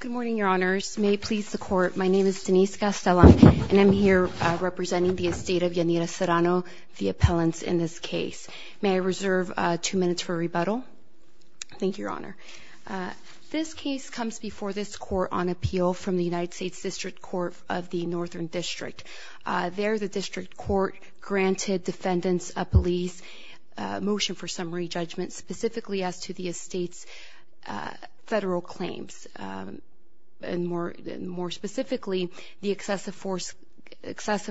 Good morning, your honors. May it please the court, my name is Denise Castellan, and I'm here representing the estate of Yanira Serrano, the appellants in this case. May I reserve two minutes for rebuttal? Thank you, your honor. This case comes before this court on appeal from the United States District Court of the Northern District. There, the district court granted defendants a police motion for summary judgment specifically as to the estate's federal claims. More specifically, the excessive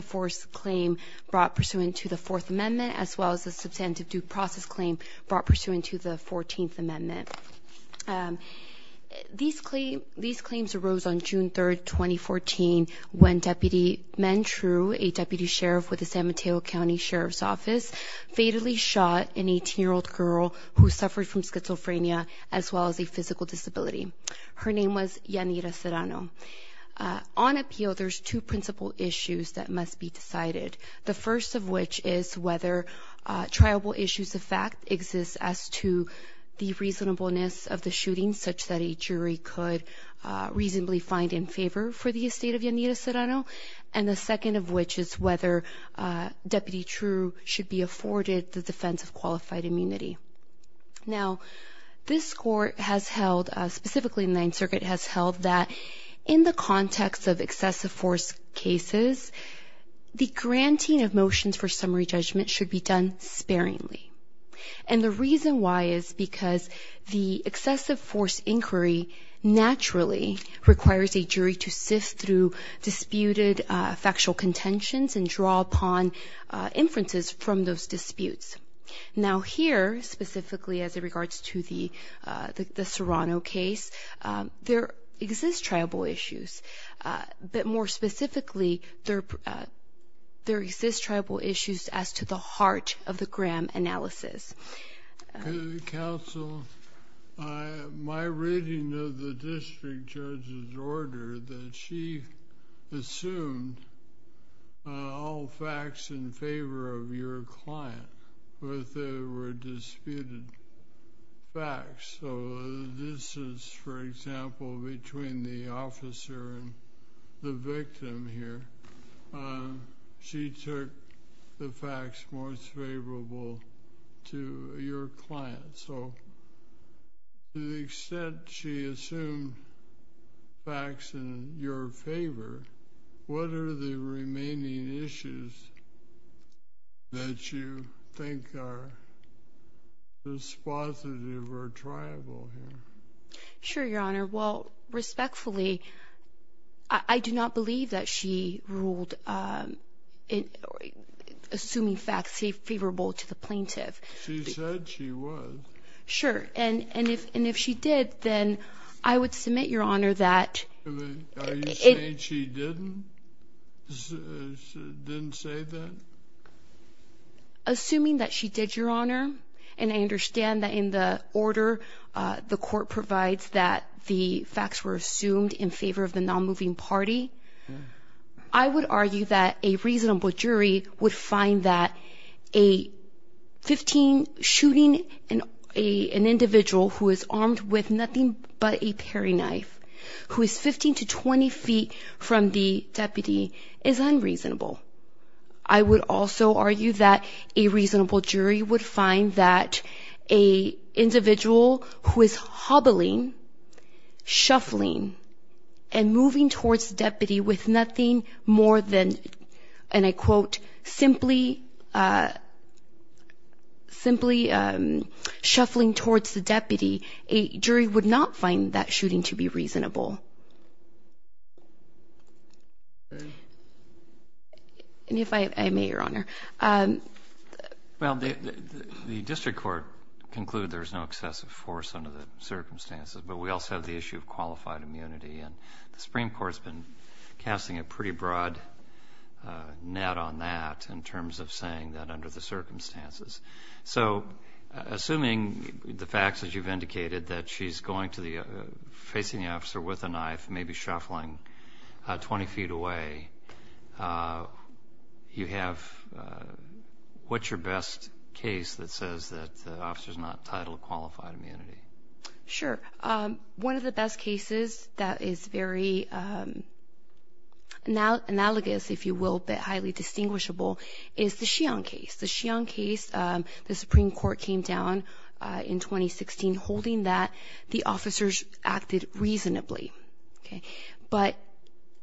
force claim brought pursuant to the Fourth Amendment, as well as the substantive due process claim brought pursuant to the Fourteenth Amendment. These claims arose on June 3, 2014, when Deputy Menh Trieu, a deputy sheriff with the San Mateo County Sheriff's Office, fatally shot an 18-year-old girl who suffered from schizophrenia, as well as a physical disability. Her name was Yanira Serrano. On appeal, there's two principal issues that must be decided. The first of which is whether triable issues of fact exist as to the reasonableness of the shooting, such that a jury could reasonably find in favor for the estate of Yanira Serrano. And the second of which is whether Deputy Trieu should be afforded the defense of qualified immunity. Now, this court has held, specifically the Ninth Circuit has held that in the context of excessive force cases, the granting of motions for summary judgment should be done sparingly. And the reason why is because the excessive force inquiry naturally requires a jury to sift through disputed factual contentions and draw upon inferences from those disputes. Now here, specifically as it regards to the Serrano case, there exist triable issues. But more specifically, there exist triable issues as to the heart of the Graham analysis. Counsel, my reading of the district judge's order that she assumed all facts in favor of your client, but there were disputed facts. So this is, for example, between the officer and the victim here. She took the facts most favorable to your client. So to the extent she assumed facts in your favor, what are the remaining issues that you think are dispositive or triable here? Sure, Your Honor. Well, respectfully, I do not believe that she ruled assuming facts favorable to the plaintiff. She said she would. Sure. And if she did, then I would submit, Your Honor, that — Are you saying she didn't say that? Assuming that she did, Your Honor, and I understand that in the order the court provides that the facts were assumed in favor of the nonmoving party, I would argue that a reasonable jury would find that a 15 — shooting an individual who is armed with nothing but a paring knife, who is 15 to 20 feet from the deputy, is unreasonable. I would also argue that a reasonable jury would find that an individual who is hobbling, shuffling, and moving towards the deputy with nothing more than, and I quote, and simply shuffling towards the deputy, a jury would not find that shooting to be reasonable. And if I may, Your Honor. Well, the district court concluded there was no excessive force under the circumstances, but we also have the issue of qualified immunity, and the Supreme Court's been casting a pretty broad net on that in terms of saying that under the circumstances. So, assuming the facts that you've indicated, that she's going to the — facing the officer with a knife, maybe shuffling 20 feet away, you have — what's your best case that says that the officer's not titled qualified immunity? Sure. One of the best cases that is very analogous, if you will, but highly distinguishable, is the Sheehan case. The Sheehan case, the Supreme Court came down in 2016 holding that the officers acted reasonably. But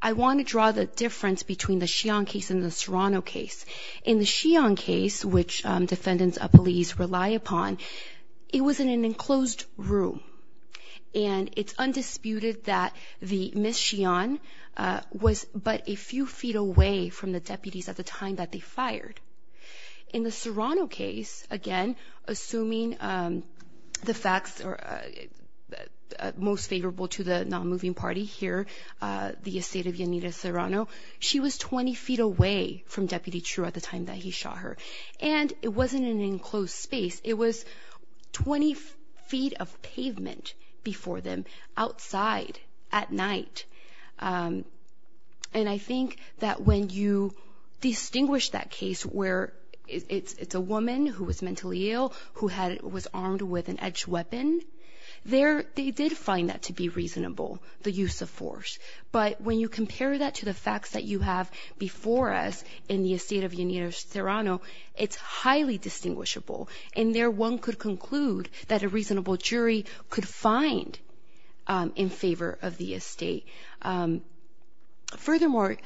I want to draw the difference between the Sheehan case and the Serrano case. In the Sheehan case, which defendants of police rely upon, it was in an enclosed room, and it's undisputed that the Miss Sheehan was but a few feet away from the deputies at the time that they fired. In the Serrano case, again, assuming the facts are most favorable to the non-moving party here, the estate of Yanira Serrano, she was 20 feet away from Deputy True at the time that he shot her, and it wasn't an enclosed space. It was 20 feet of pavement before them outside at night. And I think that when you distinguish that case where it's a woman who was mentally ill, who was armed with an edged weapon, they did find that to be reasonable, the use of force. But when you compare that to the facts that you have before us in the estate of Yanira Serrano, it's highly distinguishable. And there one could conclude that a reasonable jury could find in favor of the estate. Furthermore,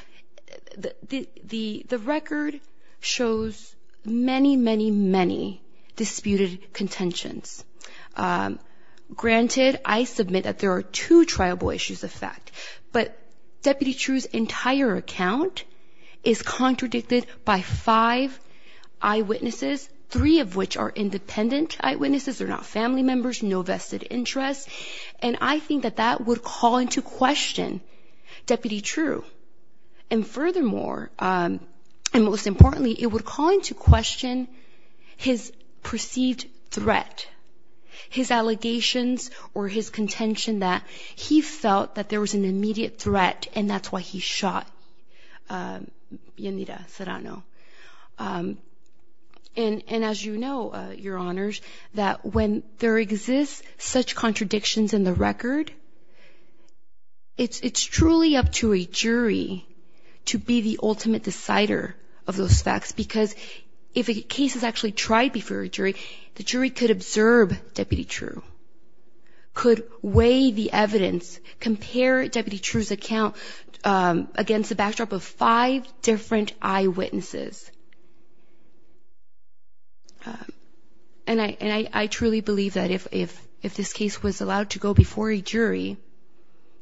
the record shows many, many, many disputed contentions. Granted, I submit that there are two triable issues of fact, but Deputy True's entire account is contradicted by five eyewitnesses, three of which are independent eyewitnesses, they're not family members, no vested interest. And I think that that would call into question Deputy True. And furthermore, and most importantly, it would call into question his perceived threat, his allegations or his contention that he felt that there was an immediate threat and that's why he shot Yanira Serrano. And as you know, Your Honors, that when there exists such contradictions in the record, it's truly up to a jury to be the ultimate decider of those facts. Because if a case is actually tried before a jury, the jury could observe Deputy True, could weigh the evidence, compare Deputy True's account against the backdrop of five different eyewitnesses. And I truly believe that if this case was allowed to go before a jury,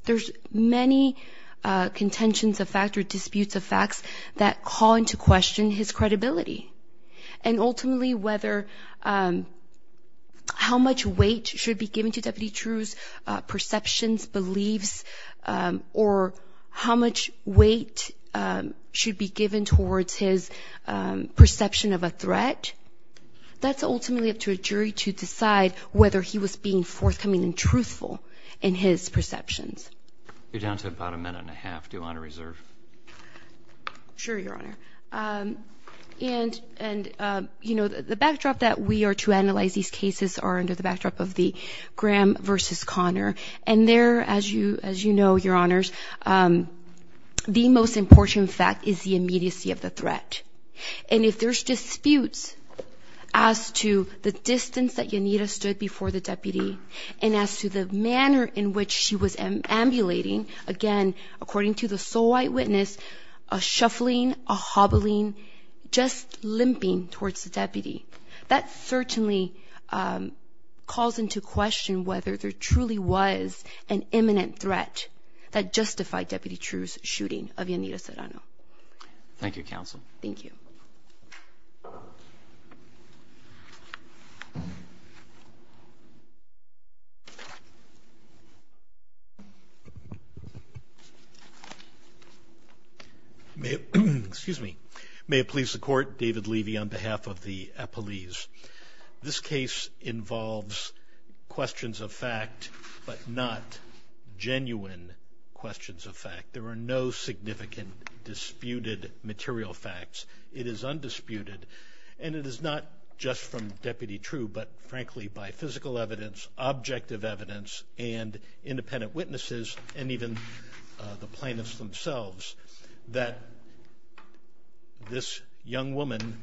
there's many contentions of fact or disputes of facts that call into question his credibility. And ultimately, how much weight should be given to Deputy True's perceptions, beliefs, or how much weight should be given towards his perception of a threat, that's ultimately up to a jury to decide whether he was being forthcoming and truthful in his perceptions. You're down to about a minute and a half. Do you want to reserve? Sure, Your Honor. And, you know, the backdrop that we are to analyze these cases are under the backdrop of the Graham versus Connor. And there, as you know, Your Honors, the most important fact is the immediacy of the threat. And if there's disputes as to the distance that Yanira stood before the deputy and as to the manner in which she was ambulating, again, according to the sole eyewitness, a shuffling, a hobbling, just limping towards the deputy, that certainly calls into question whether there truly was an imminent threat that justified Deputy True's shooting of Yanira Serrano. Thank you, Counsel. Thank you. May it please the Court, David Levy on behalf of the appellees. This case involves questions of fact, but not genuine questions of fact. There are no significant disputed material facts. It is undisputed. And it is not just from Deputy True, but frankly, by physical evidence, objective evidence, and independent witnesses, and even the plaintiffs themselves, that this young woman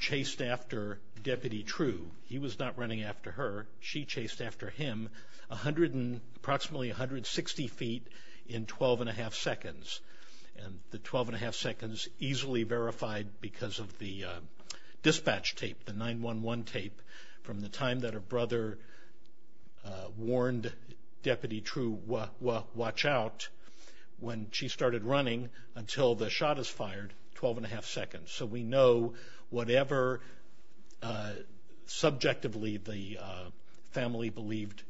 chased after Deputy True. He was not running after her. She chased after him approximately 160 feet in 12 and a half seconds. And the 12 and a half seconds easily verified because of the dispatch tape, the 911 tape, from the time that her brother warned Deputy True, watch out, when she started running until the shot is fired, 12 and a half seconds. So we know whatever subjectively the family believed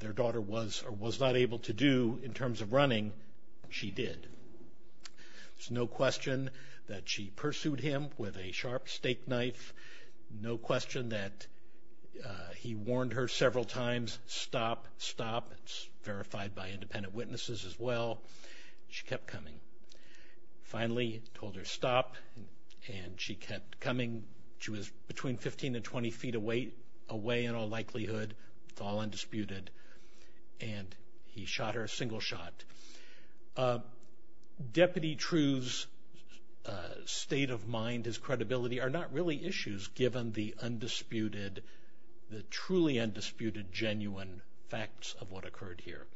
their daughter was or was not able to do in terms of running, she did. There's no question that she pursued him with a sharp steak knife. No question that he warned her several times, stop, stop. It's verified by independent witnesses as well. She kept coming. Finally, he told her stop, and she kept coming. She was between 15 and 20 feet away in all likelihood. It's all undisputed. And he shot her a single shot. Deputy True's state of mind, his credibility, are not really issues given the undisputed, the truly undisputed genuine facts of what occurred here.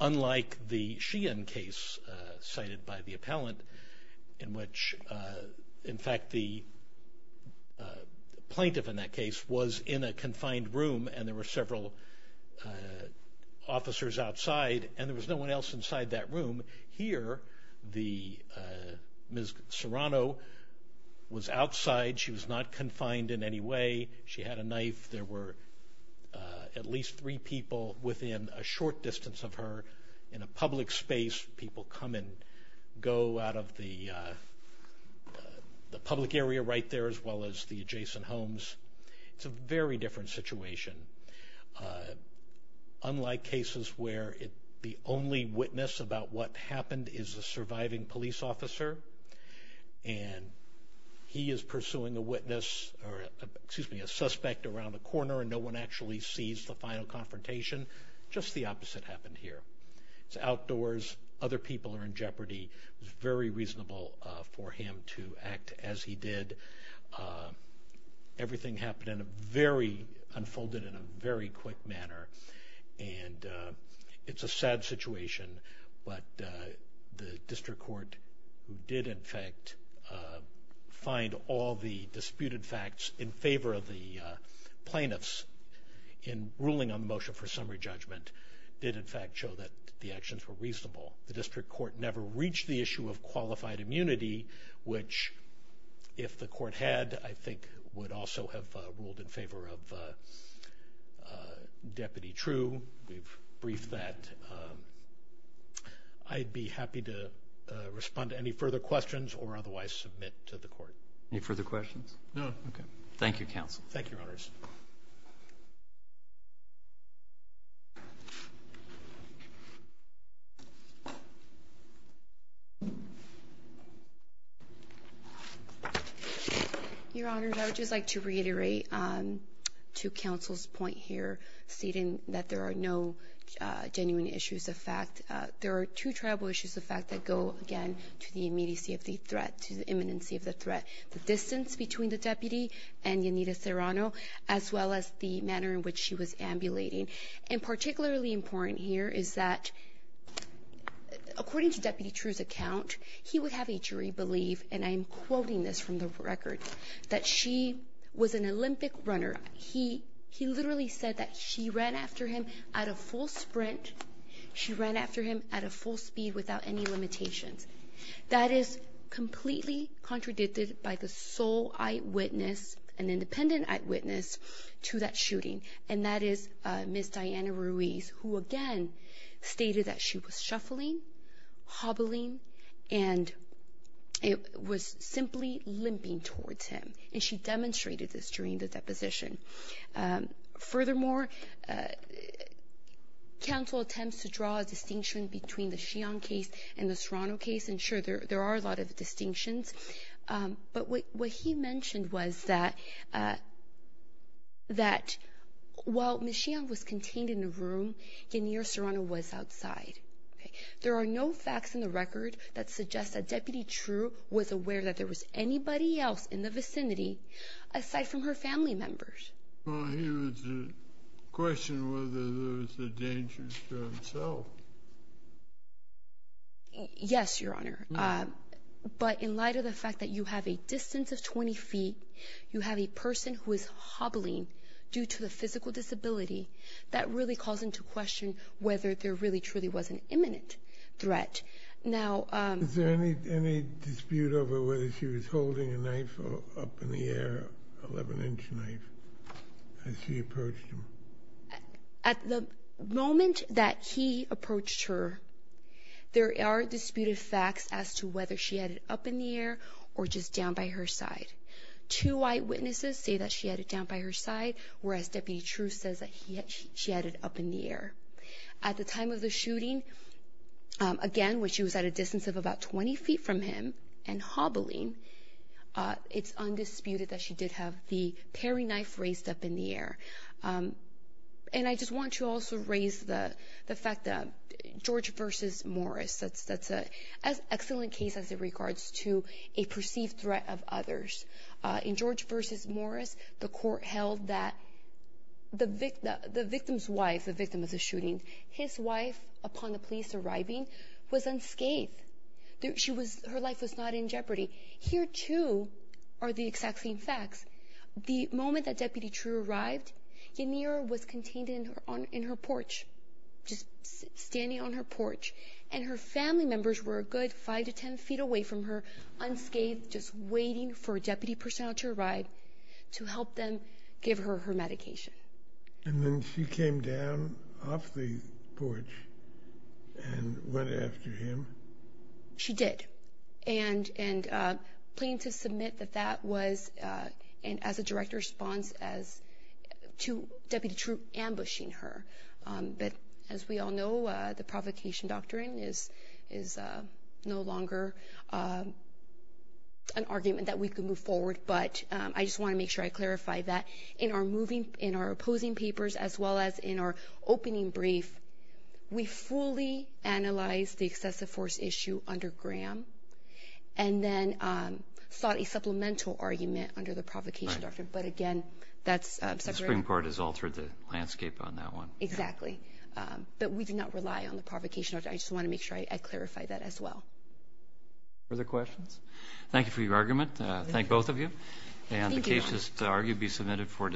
Unlike the Sheehan case cited by the appellant in which, in fact, the plaintiff in that case was in a confined room, and there were several officers outside, and there was no one else inside that room. Here, Ms. Serrano was outside. She was not confined in any way. She had a knife. There were at least three people within a short distance of her in a public space. People come and go out of the public area right there as well as the adjacent homes. It's a very different situation. Unlike cases where the only witness about what happened is a surviving police officer, and he is pursuing a witness or, excuse me, a suspect around the corner, and no one actually sees the final confrontation, just the opposite happened here. It's outdoors. Other people are in jeopardy. It was very reasonable for him to act as he did. Everything unfolded in a very quick manner, and it's a sad situation, but the district court did, in fact, find all the disputed facts in favor of the plaintiffs in ruling on motion for summary judgment did, in fact, show that the actions were reasonable. The district court never reached the issue of qualified immunity, which if the court had, I think, would also have ruled in favor of Deputy True. We've briefed that. I'd be happy to respond to any further questions or otherwise submit to the court. Any further questions? No. Okay. Thank you, Counsel. Thank you, Your Honors. Your Honors, I would just like to reiterate to Counsel's point here, stating that there are no genuine issues of fact. There are two tribal issues of fact that go, again, to the immediacy of the threat, to the imminency of the threat. The distance between the deputy and Yanira Serrano, as well as the manner in which she was ambulating. And particularly important here is that, according to Deputy True's account, he would have a jury believe, and I am quoting this from the record, that she was an Olympic runner. He literally said that she ran after him at a full sprint. She ran after him at a full speed without any limitations. That is completely contradicted by the sole eyewitness, an independent eyewitness, to that shooting. And that is Ms. Diana Ruiz, who, again, stated that she was shuffling, hobbling, and was simply limping towards him. And she demonstrated this during the deposition. Furthermore, Counsel attempts to draw a distinction between the Shion case and the Serrano case, and, sure, there are a lot of distinctions. But what he mentioned was that while Ms. Shion was contained in a room, Yanira Serrano was outside. There are no facts in the record that suggest that Deputy True was aware that there was anybody else in the vicinity aside from her family members. Well, he was to question whether there was a danger to himself. Yes, Your Honor. But in light of the fact that you have a distance of 20 feet, you have a person who is hobbling due to the physical disability, that really calls into question whether there really truly was an imminent threat. Is there any dispute over whether she was holding a knife up in the air, an 11-inch knife, as she approached him? At the moment that he approached her, there are disputed facts as to whether she had it up in the air or just down by her side. Two eyewitnesses say that she had it down by her side, whereas Deputy True says that she had it up in the air. At the time of the shooting, again, when she was at a distance of about 20 feet from him and hobbling, it's undisputed that she did have the paring knife raised up in the air. And I just want to also raise the fact that George v. Morris, that's an excellent case as it regards to a perceived threat of others. In George v. Morris, the victim's wife, the victim of the shooting, his wife, upon the police arriving, was unscathed. Her life was not in jeopardy. Here, too, are the exact same facts. The moment that Deputy True arrived, Yanira was contained in her porch, just standing on her porch. And her family members were a good 5 to 10 feet away from her, unscathed, just waiting for a deputy personnel to arrive to help them give her her medication. And then she came down off the porch and went after him? She did. And pleading to submit that that was, as a direct response, to Deputy True ambushing her. But as we all know, the provocation doctrine is no longer an argument that we can move forward. But I just want to make sure I clarify that. In our opposing papers, as well as in our opening brief, we fully analyzed the excessive force issue under Graham and then sought a supplemental argument under the provocation doctrine. But, again, that's separate. The Supreme Court has altered the landscape on that one. Exactly. But we do not rely on the provocation doctrine. I just want to make sure I clarify that as well. Further questions? Thank you for your argument. Thank both of you. And the case is to argue to be submitted for discussion.